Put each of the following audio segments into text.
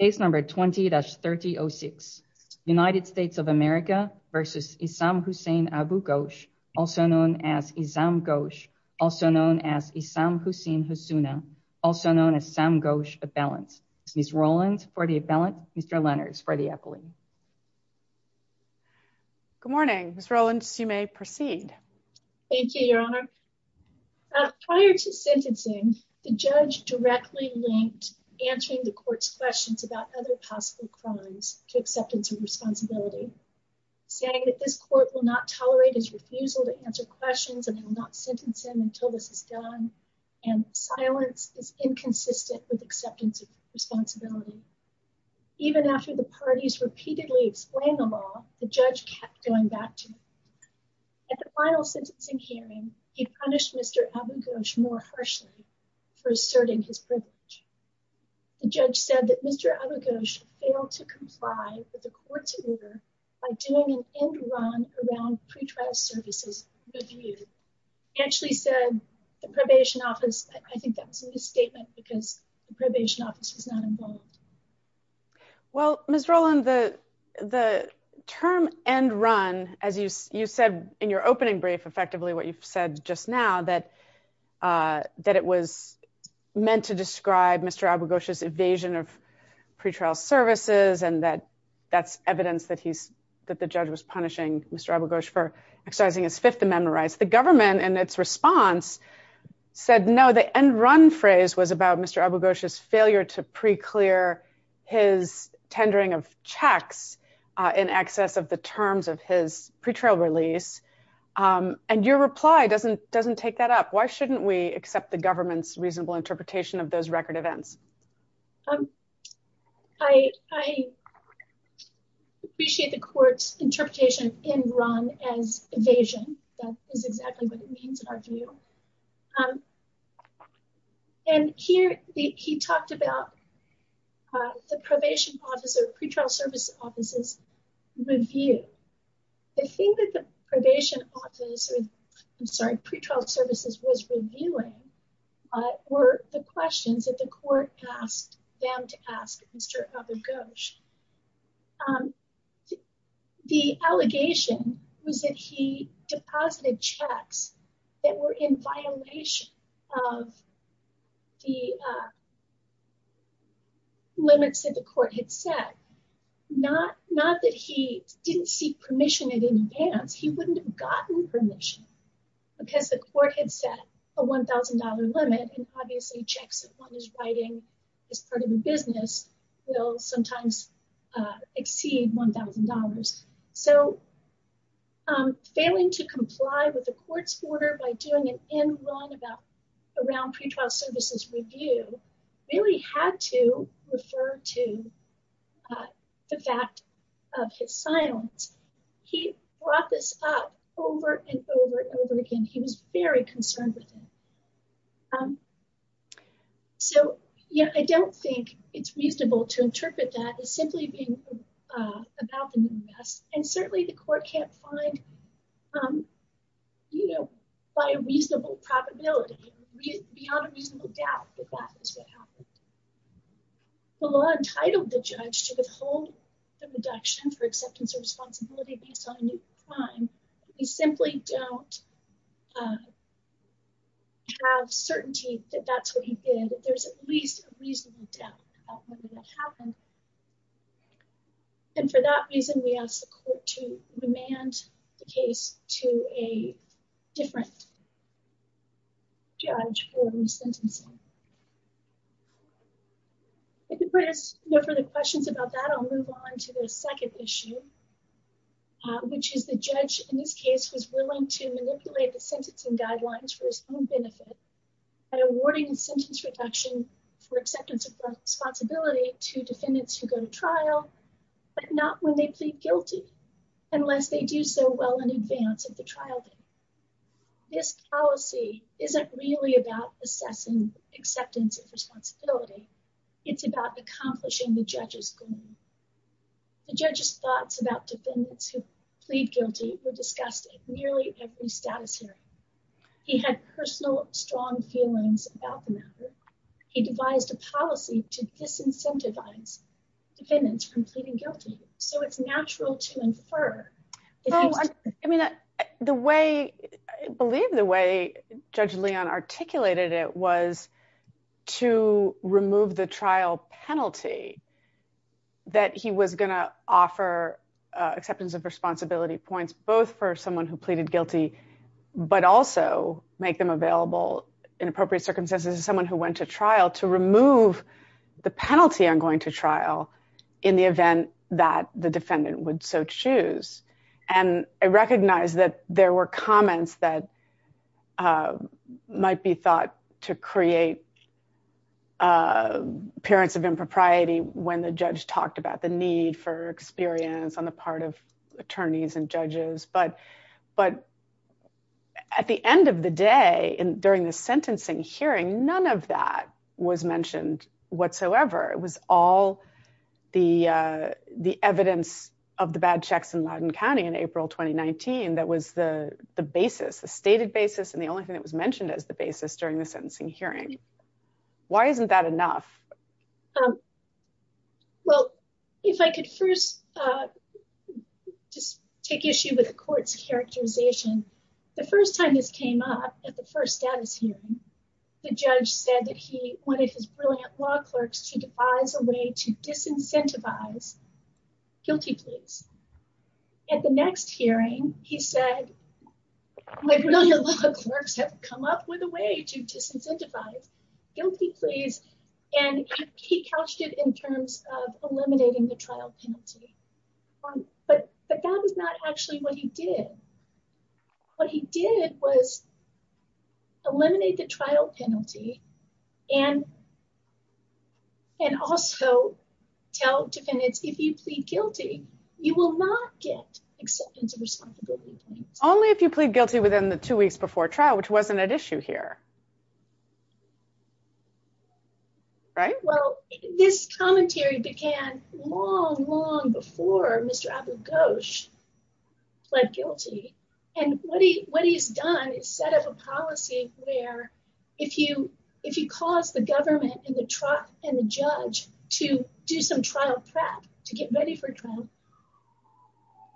Case number 20-3006. United States of America v. Issam Hussein Abu-Ghosh, also known as Issam Ghosh, also known as Issam Hussein Husuna, also known as Issam Ghosh Appellant. Ms. Rolands for the appellant, Mr. Lenners for the appellant. Good morning. Ms. Rolands, you may proceed. Thank you, Your Honor. Prior to sentencing, the judge directly linked answering the court's questions about other possible crimes to acceptance of responsibility, saying that this court will not tolerate his refusal to answer questions and will not sentence him until this is done, and silence is inconsistent with acceptance of responsibility. Even after the parties repeatedly explained the law, the judge kept going back to it. At the final sentencing hearing, he punished Mr. Abu-Ghosh more harshly for asserting his privilege. The judge said that Mr. Abu-Ghosh failed to comply with the court's order by doing an end run around pretrial services review. He actually said the probation office – I think that was a misstatement because the probation office was not involved. Well, Ms. Rolands, the term end run, as you said in your opening brief, effectively, what you've said just now, that it was meant to describe Mr. Abu-Ghosh's evasion of pretrial services and that that's evidence that he's – that the judge was punishing Mr. Abu-Ghosh for exercising his Fifth Amendment rights. The government, in its response, said no, the end run phrase was about Mr. Abu-Ghosh's failure to preclear his tendering of checks in excess of the terms of his pretrial release. And your reply doesn't take that up. Why shouldn't we accept the government's reasonable interpretation of those record events? I appreciate the court's interpretation of end run as evasion. That is exactly what it means, I feel. And here, he talked about the probation office or pretrial services review. The thing that the probation office – I'm sorry, pretrial services was reviewing were the questions that the court asked them to ask Mr. Abu-Ghosh. The allegation was that he deposited checks that were in violation of the limits that the court had set. Not that he didn't seek permission in advance, he wouldn't have gotten permission because the court had set a $1,000 limit and obviously checks that one is writing as part of a business will sometimes exceed $1,000. So, failing to comply with the court's order by doing an end run around pretrial services review really had to refer to the fact of his silence. He brought this up over and over and over again. He was very concerned with it. So, yeah, I don't think it's reasonable to interpret that as simply being about the new arrest. And certainly, the court can't find, you know, by a reasonable probability, beyond a reasonable doubt that that is what happened. The law entitled the judge to withhold the reduction for acceptance or responsibility based on a new crime. We simply don't have certainty that that's what he did. There's at least a reasonable doubt about whether that happened. And for that reason, we ask the court to remand the case to a different judge for the sentencing. If you put us no further questions about that, I'll move on to the second issue, which is the judge in this case was willing to manipulate the sentencing guidelines for his own benefit by awarding a sentence reduction for acceptance of responsibility to defendants who go to trial, but not when they plead guilty unless they do so well in advance of the trial date. This policy isn't really about assessing acceptance of responsibility. It's about accomplishing the judge's goal. The judge's thoughts about defendants who plead guilty were discussed at nearly every status hearing. He had personal strong feelings about the matter. He devised a policy to disincentivize defendants from pleading guilty. So it's natural to infer. No, I mean, I believe the way Judge Leon articulated it was to remove the trial penalty that he was going to offer acceptance of responsibility points, both for someone who pleaded guilty, but also make them available in appropriate circumstances to someone who went to trial to remove the penalty on going to trial in the event that the defendant would so choose. And I recognize that there were comments that might be thought to create parents of impropriety when the judge talked about the need for experience on the part of attorneys and judges. But at the end of the day, during the sentencing hearing, none of that was mentioned whatsoever. It was all the evidence of the bad checks in Loudoun County in April 2019 that was the basis, the stated basis, and the only thing that was mentioned as the basis during the sentencing hearing. Why isn't that enough? Well, if I could first just take issue with the court's characterization, the first time this came up at the first status hearing, the judge said that he wanted his brilliant law clerks to devise a way to disincentivize guilty pleas. At the next hearing, he said, my brilliant law clerks have come up with a way to disincentivize guilty pleas, and he couched it in terms of eliminating the trial penalty. But that was not actually what he did. What he did was eliminate the trial penalty and and also tell defendants, if you plead guilty, you will not get acceptance of responsibility. Only if you plead guilty within the two weeks before trial, which wasn't at issue here. Right. Well, this commentary began long, long before Mr. Abu Ghosh pled guilty. And what he what he's done is set up a policy where if you if you cause the government and the trial and the judge to do some trial prep, to get ready for trial,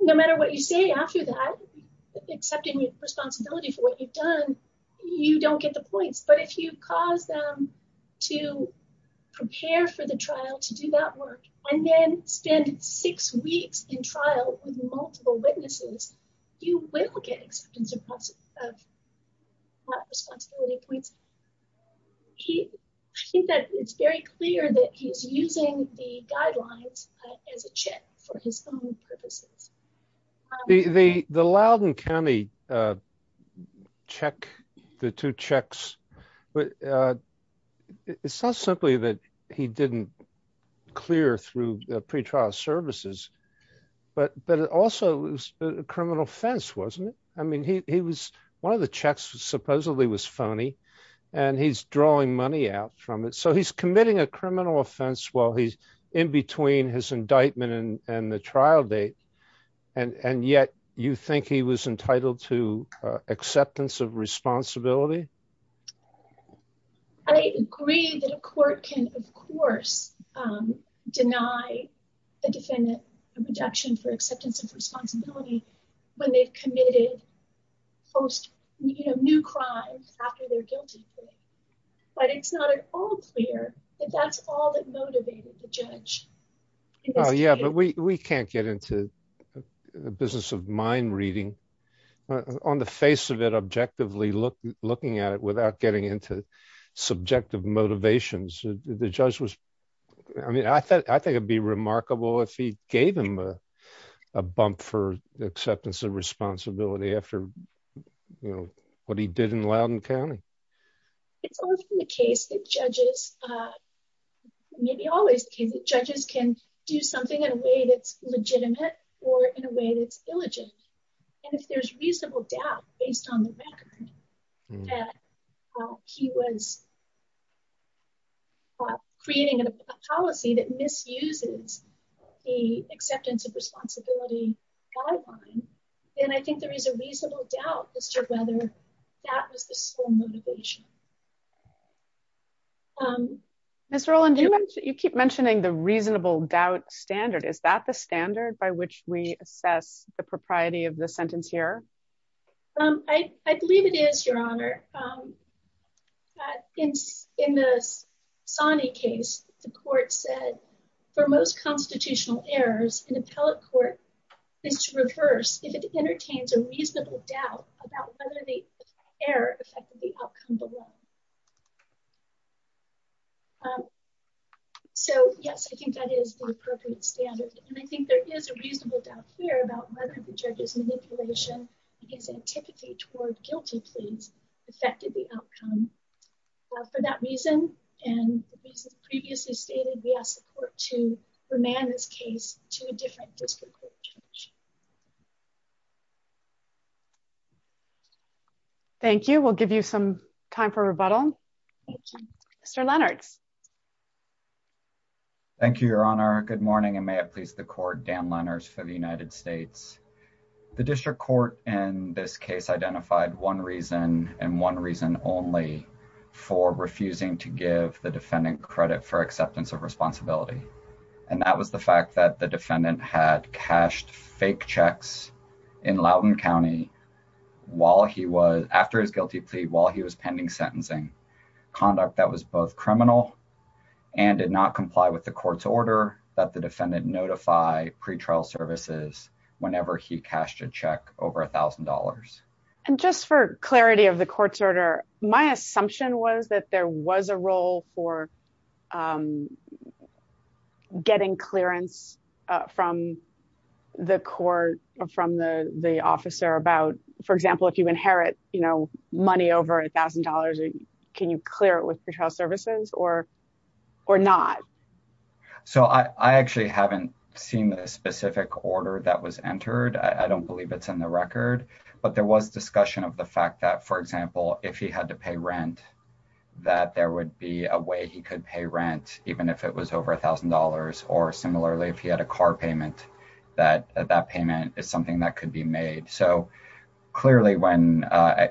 no matter what you say after that, accepting responsibility for what you've done, you don't get the policy. But if you cause them to prepare for the trial, to do that work and then spend six weeks in trial with multiple witnesses, you will get acceptance of responsibility. I think that it's very clear that he's using the guidelines as a check for his own purposes. The Loudon County a check, the two checks. But it's not simply that he didn't clear through the pretrial services, but but it also was a criminal offense, wasn't it? I mean, he was one of the checks supposedly was phony and he's drawing money out from it. So he's committing a criminal offense while he's in between his indictment and the trial date. And yet you think he was entitled to acceptance of responsibility? I agree that a court can, of course, deny a defendant a reduction for acceptance of responsibility when they've committed post new crimes after they're guilty. But it's not at all clear that that's all that motivated the judge. Yeah, but we can't get into the business of mind reading on the face of it, objectively looking at it without getting into subjective motivations. The judge was I mean, I thought I think it'd be remarkable if he gave him a bump for acceptance of responsibility after you know what he did in Loudon County. It's often the case that judges, maybe always the case that judges can do something in a way that's legitimate or in a way that's illegitimate. And if there's reasonable doubt based on the record that he was creating a policy that misuses the acceptance of responsibility guideline, then I think there is a reasonable doubt as to whether that was the sole motivation. Ms. Roland, you keep mentioning the reasonable doubt standard. Is that the standard by which we assess the propriety of the sentence here? I believe it is, Your Honor. In the Sonny case, the court said, for most constitutional errors, an appellate court is to reverse if it entertains a reasonable doubt about whether the error affected the outcome. So yes, I think that is the appropriate standard. And I think there is a reasonable doubt here whether the judge's manipulation is antipathy toward guilty pleas affected the outcome. For that reason, and the reasons previously stated, we ask the court to remand this case to a different district court judge. Thank you. We'll give you some time for rebuttal. Mr. Lennox. Thank you, Your Honor. Good morning, and may it please the court, Dan Lennox for the United States. The district court in this case identified one reason and one reason only for refusing to give the defendant credit for acceptance of responsibility. And that was the fact that the defendant had cashed fake checks in Loudoun County after his guilty plea while he was pending sentencing, conduct that was both criminal and did not comply with the court's order that the defendant notify pretrial services whenever he cashed a check over $1,000. And just for clarity of the court's order, my assumption was that there was a role for getting clearance from the court, from the officer about, for example, if you inherit money over $1,000, can you clear it with pretrial services or not? So I actually haven't seen the specific order that was entered. I don't believe it's in the record, but there was discussion of the fact that, for example, if he had to pay rent, that there would be a way he could pay rent, even if it was over $1,000. Or similarly, if he had a car payment, that that payment is something that could be made. So clearly when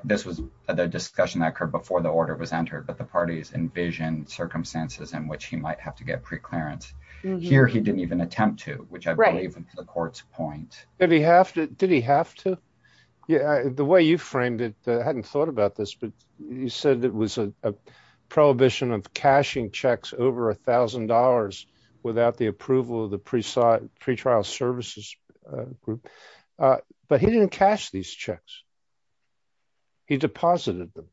this was the discussion that occurred before the order was entered, but the parties envision circumstances in which he might have to get preclearance. Here, he didn't even attempt to, which I believe was the court's point. Did he have to? Yeah. The way you framed it, I hadn't thought about this, but you said it was a prohibition of cashing checks over $1,000 without the approval of the pretrial services group. But he didn't cash these checks. He deposited them.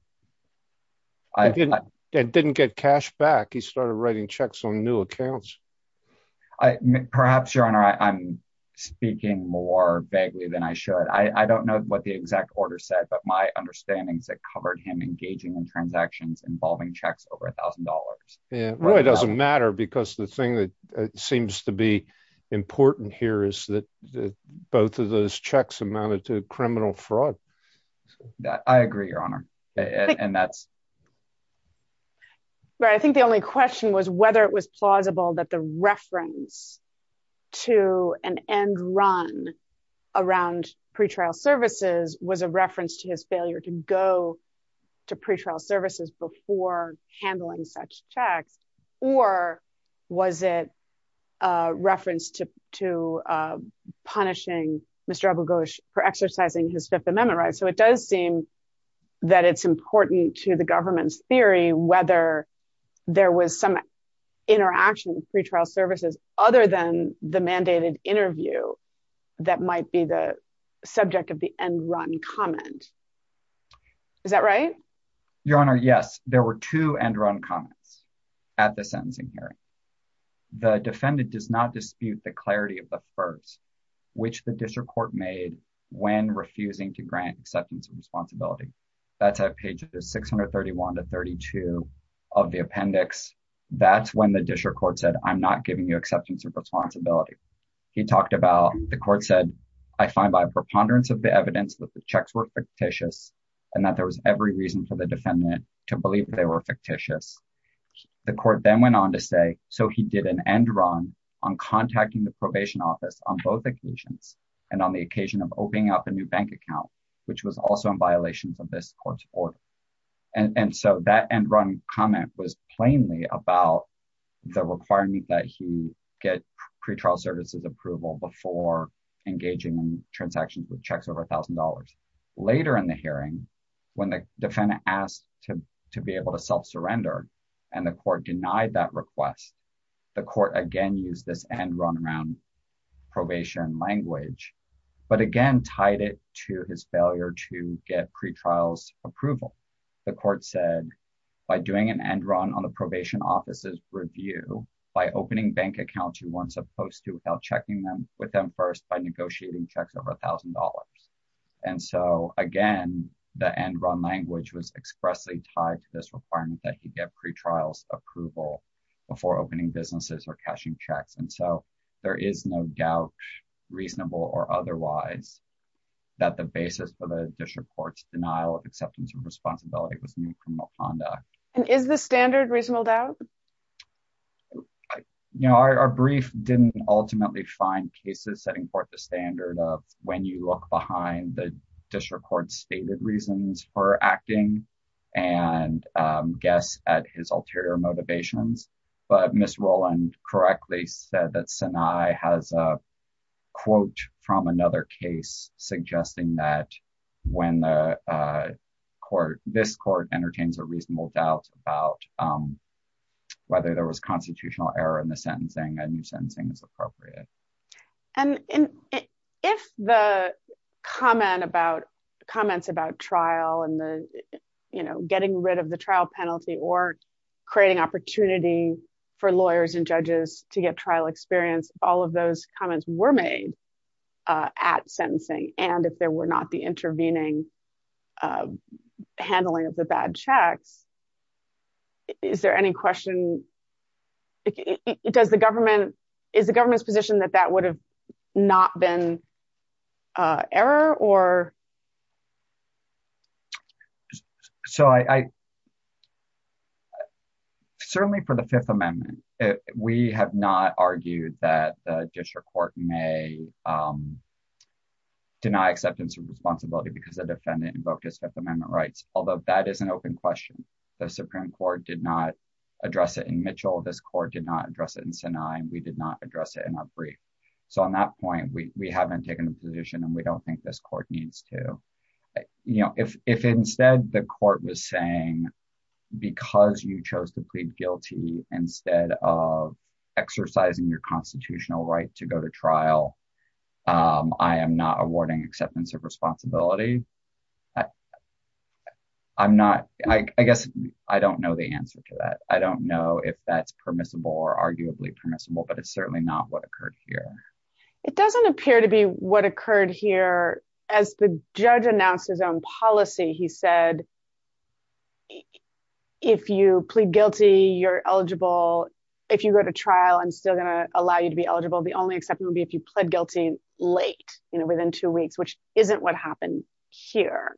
It didn't get cashed back. He started writing checks on new accounts. Perhaps, Your Honor, I'm speaking more vaguely than I should. I don't know what the exact order said, but my understanding is that it covered him engaging in transactions involving checks over $1,000. Yeah. Well, it doesn't matter because the thing that seems to be important here is that both of those checks amounted to criminal fraud. I agree, Your Honor. And that's... I think the only question was whether it was plausible that the reference to an end run around pretrial services was a reference to his failure to go to pretrial services before handling such checks, or was it a reference to punishing Mr. Abugosh for exercising his Fifth Amendment right? So it does seem that it's important to the government's theory whether there was some interaction with pretrial services other than the mandated interview that might be the subject of the end run comment. Is that right? Your Honor, yes. There were two end run comments at the sentencing hearing. The defendant does not dispute the clarity of the first, which the district court made when refusing to grant acceptance of responsibility. That's at pages 631 to 632 of the appendix. That's when the district court said, I'm not giving you acceptance of responsibility. The court said, I find by preponderance of the evidence that the checks were fictitious and that there was every reason for the defendant to believe they were fictitious. The court then went on to say, so he did an end run on contacting the probation office on both occasions, and on the occasion of opening up a new bank account, which was also in violation of this court's order. And so that end run comment was plainly about the requirement that he get pretrial services approval before engaging in transactions with checks over $1,000. Later in the hearing, when the defendant asked to be able to self-surrender and the court denied that request, the court again used this end run around probation language, but again, tied it to his failure to get pretrials approval. The court said by doing an end run on the probation office's review, by opening bank accounts you weren't supposed to without checking them with them first by negotiating checks over $1,000. And so again, the end run language was expressly tied to this requirement that he get pretrials approval before opening businesses or cashing checks. And so there is no doubt, reasonable or otherwise, that the basis for the district court's denial of acceptance of And is the standard reasonable doubt? You know, our brief didn't ultimately find cases setting forth the standard of when you look behind the district court's stated reasons for acting and guess at his ulterior motivations. But Ms. Rowland correctly said that Sinai has a quote from another case suggesting that when this court entertains a reasonable doubt about whether there was constitutional error in the sentencing, a new sentencing is appropriate. And if the comments about trial and the, you know, getting rid of the trial penalty or creating opportunity for lawyers and judges to get trial experience, all of those comments were made at sentencing and if there were not the intervening handling of the bad checks. Is there any question? Does the government is the government's position that that would have not been error or So I Certainly for the Fifth Amendment, we have not argued that the district court may deny acceptance of responsibility because the defendant invoked his Fifth Amendment rights, although that is an open question. The Supreme Court did not address it in Mitchell. This court did not address it in Sinai. We did not address it in our brief. So on that point, we haven't taken a position and we don't think this court needs to, you know, if instead the court was saying, because you chose to plead guilty instead of exercising your constitutional right to go to trial. I am not awarding acceptance of responsibility. I'm not, I guess I don't know the answer to that. I don't know if that's permissible or arguably permissible, but it's certainly not what occurred here. It doesn't appear to be what occurred here as the judge announced his own policy. He said, If you plead guilty, you're eligible. If you go to trial, I'm still going to allow you to be eligible. The only exception would be if you pled guilty late, you know, within two weeks, which isn't what happened here.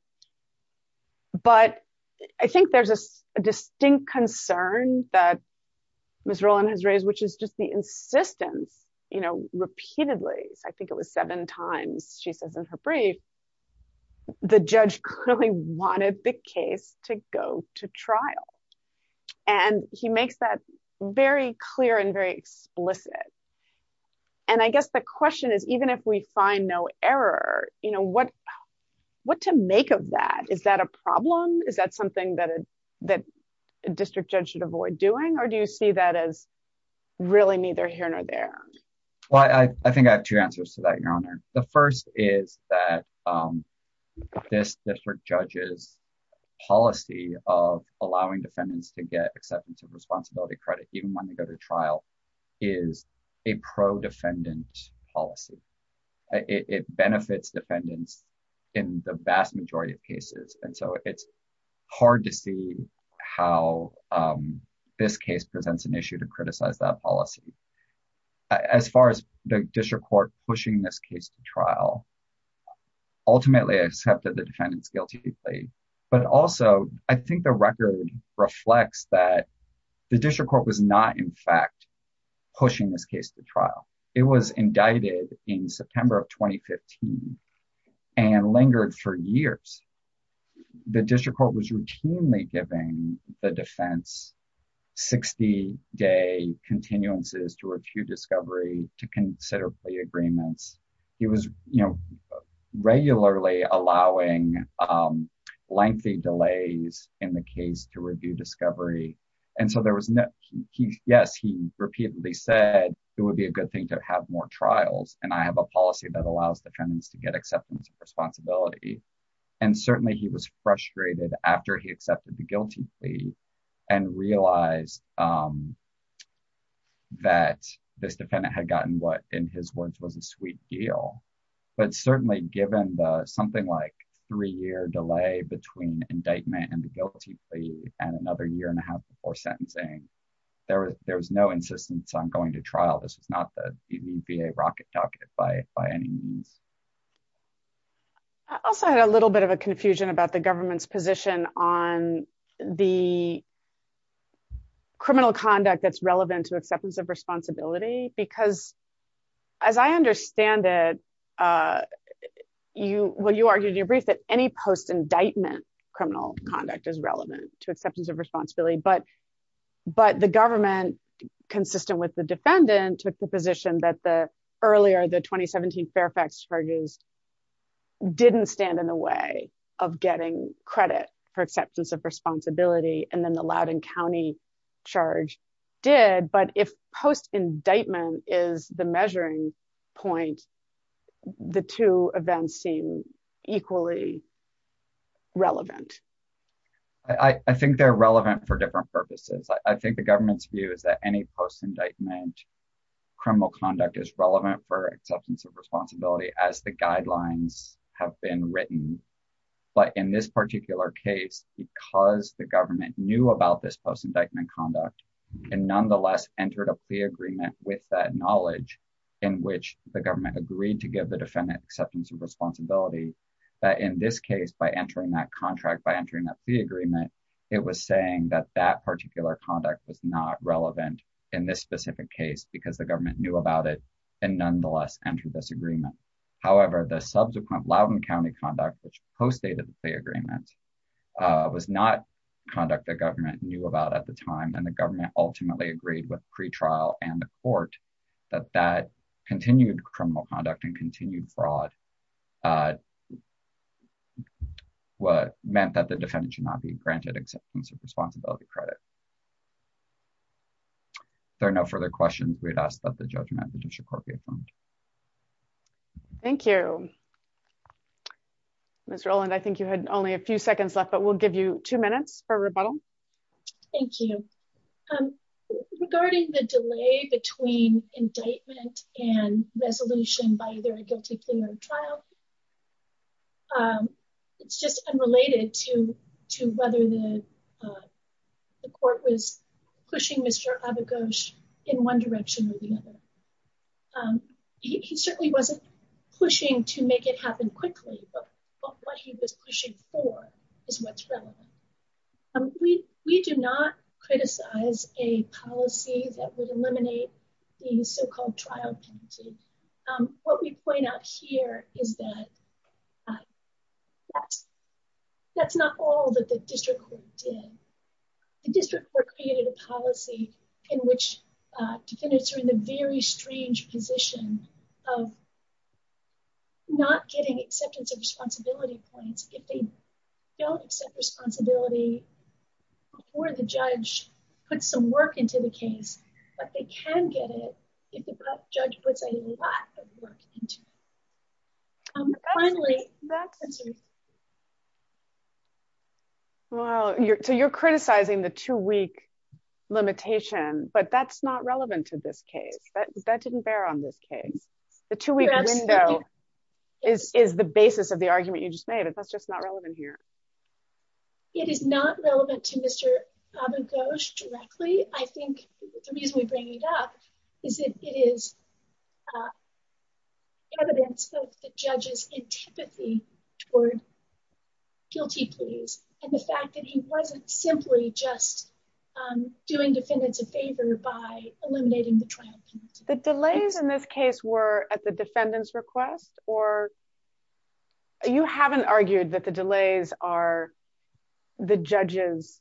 But I think there's a distinct concern that Ms. Rowland has raised, which is just the insistence, you know, repeatedly. I think it was seven times, she says in her brief, the judge clearly wanted the case to go to trial. And he makes that very clear and very explicit. And I guess the question is, even if we find no error, you know, what to make of that? Is that a problem? Is that something that a district judge should avoid doing? Or do you see that as really neither here nor there? Well, I think I have two answers to that, Your Honor. The first is that this district judge's policy of allowing defendants to get acceptance of responsibility credit, even when they go to trial, is a pro-defendant policy. It benefits defendants in the vast majority of cases. And so it's hard to see how this case presents an issue to criticize that policy. As far as the district court pushing this case to trial, ultimately accepted the defendant's guilty plea. But also, I think the record reflects that the district court was not, in fact, pushing this case to trial. It was indicted in September of 2015 and lingered for years. The district court was routinely giving the defense 60-day continuances to review discovery, to consider plea agreements. He was, you know, regularly allowing lengthy delays in the case to review discovery. And so there was no, he, yes, he repeatedly said it would be a good thing to have more trials. And I have a policy that allows defendants to get acceptance of responsibility. And certainly he was frustrated after he accepted the guilty plea and realized that this defendant had gotten what, in his words, was a sweet deal. But certainly given the something like three-year delay between indictment and the guilty plea and another year and a half before sentencing, there was no insistence on going to trial. This was not the little bit of a confusion about the government's position on the criminal conduct that's relevant to acceptance of responsibility. Because as I understand it, you, well, you argued in your brief that any post-indictment criminal conduct is relevant to acceptance of responsibility. But the government, consistent with the defendant, took the position that the earlier, the 2017 Fairfax charges didn't stand in the way of getting credit for acceptance of responsibility. And then the Loudoun County charge did. But if post-indictment is the measuring point, the two events seem equally relevant. I think they're relevant for different purposes. I think the government's view is that any post-indictment criminal conduct is relevant for acceptance of responsibility as the guidelines have been written. But in this particular case, because the government knew about this post-indictment conduct and nonetheless entered a plea agreement with that knowledge in which the government agreed to give the defendant acceptance of responsibility, that in this case, by entering that contract, by entering that plea agreement, it was saying that that particular conduct was not relevant in this specific case because the However, the subsequent Loudoun County conduct, which postdated the agreement, was not conduct the government knew about at the time. And the government ultimately agreed with pretrial and the court that that continued criminal conduct and continued fraud meant that the defendant should not be granted acceptance of responsibility credit. There are no further questions. We'd ask that the judgment of the district court be affirmed. Thank you, Mr. Oland. I think you had only a few seconds left, but we'll give you two minutes for rebuttal. Thank you. Regarding the delay between indictment and resolution by either a guilty plea or trial, it's just unrelated to whether the court was pushing Mr. Abagosh in one direction or the other. He certainly wasn't pushing to make it happen quickly, but what he was pushing for is what's relevant. We do not criticize a policy that would eliminate the so-called trial penalty. What we point out here is that that's not all that the district court did. The district court created a policy in which defendants are in the very strange position of not getting acceptance of responsibility points if they don't accept responsibility before the judge puts some work into the case, but they can get it if the judge puts a lot of work into it. You're criticizing the two-week limitation, but that's not relevant to this case. That didn't bear on this case. The two-week window is the basis of the argument you just made, but that's just not relevant here. It is not relevant to Mr. Abagosh directly. I think the reason we bring it up is that it is evidence of the judge's antipathy toward guilty pleas and the fact that he wasn't simply just doing defendants a favor by eliminating the trial penalty. The delays in this case were at the defendant's request or you haven't argued that the delays are the judges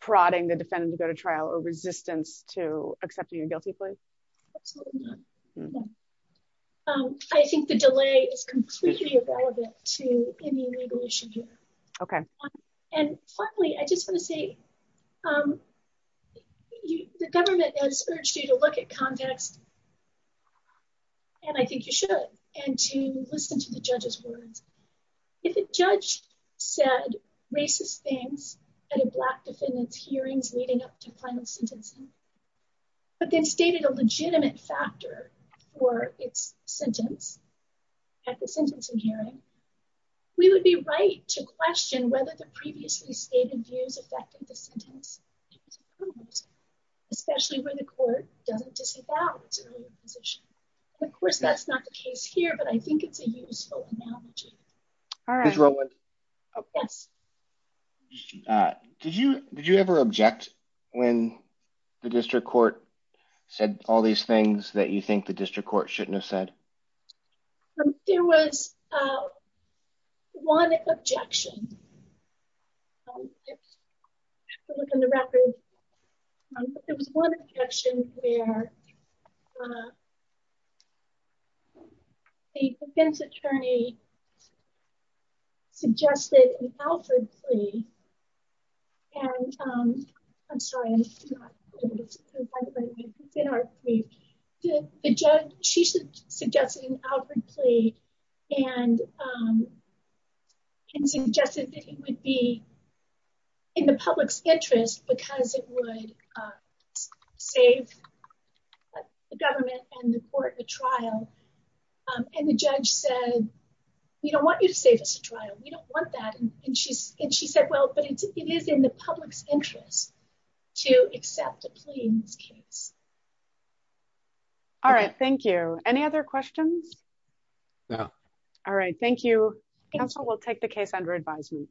prodding the defendant to go to trial or resistance to accepting a guilty plea? Absolutely not. I think the delay is completely irrelevant to any legal issue here. Okay. And finally, I just want to say the government has urged you to look at context, and I think you should, and to listen to the sentencing, but then stated a legitimate factor for its sentence at the sentencing hearing. We would be right to question whether the previously stated views affected the sentence, especially where the court doesn't disavow its earlier position. Of course, that's not the case here, but I think it's a useful analogy. Ms. Rowland, did you ever object when the district court said all these things that you think the district court shouldn't have said? There was one objection. I have to look in the record, but there was one objection where the defense attorney suggested an outward plea, and I'm sorry. The judge, she suggested an outward plea and suggested that it would be in the public's interest because it would save the government and the court the trial. And the judge said, we don't want you to save us a trial. We don't want that. And she said, well, but it is in the public's interest to accept a plea in this case. All right. Thank you. Any other questions? No. All right. Thank you. Counsel will take the case under advisement.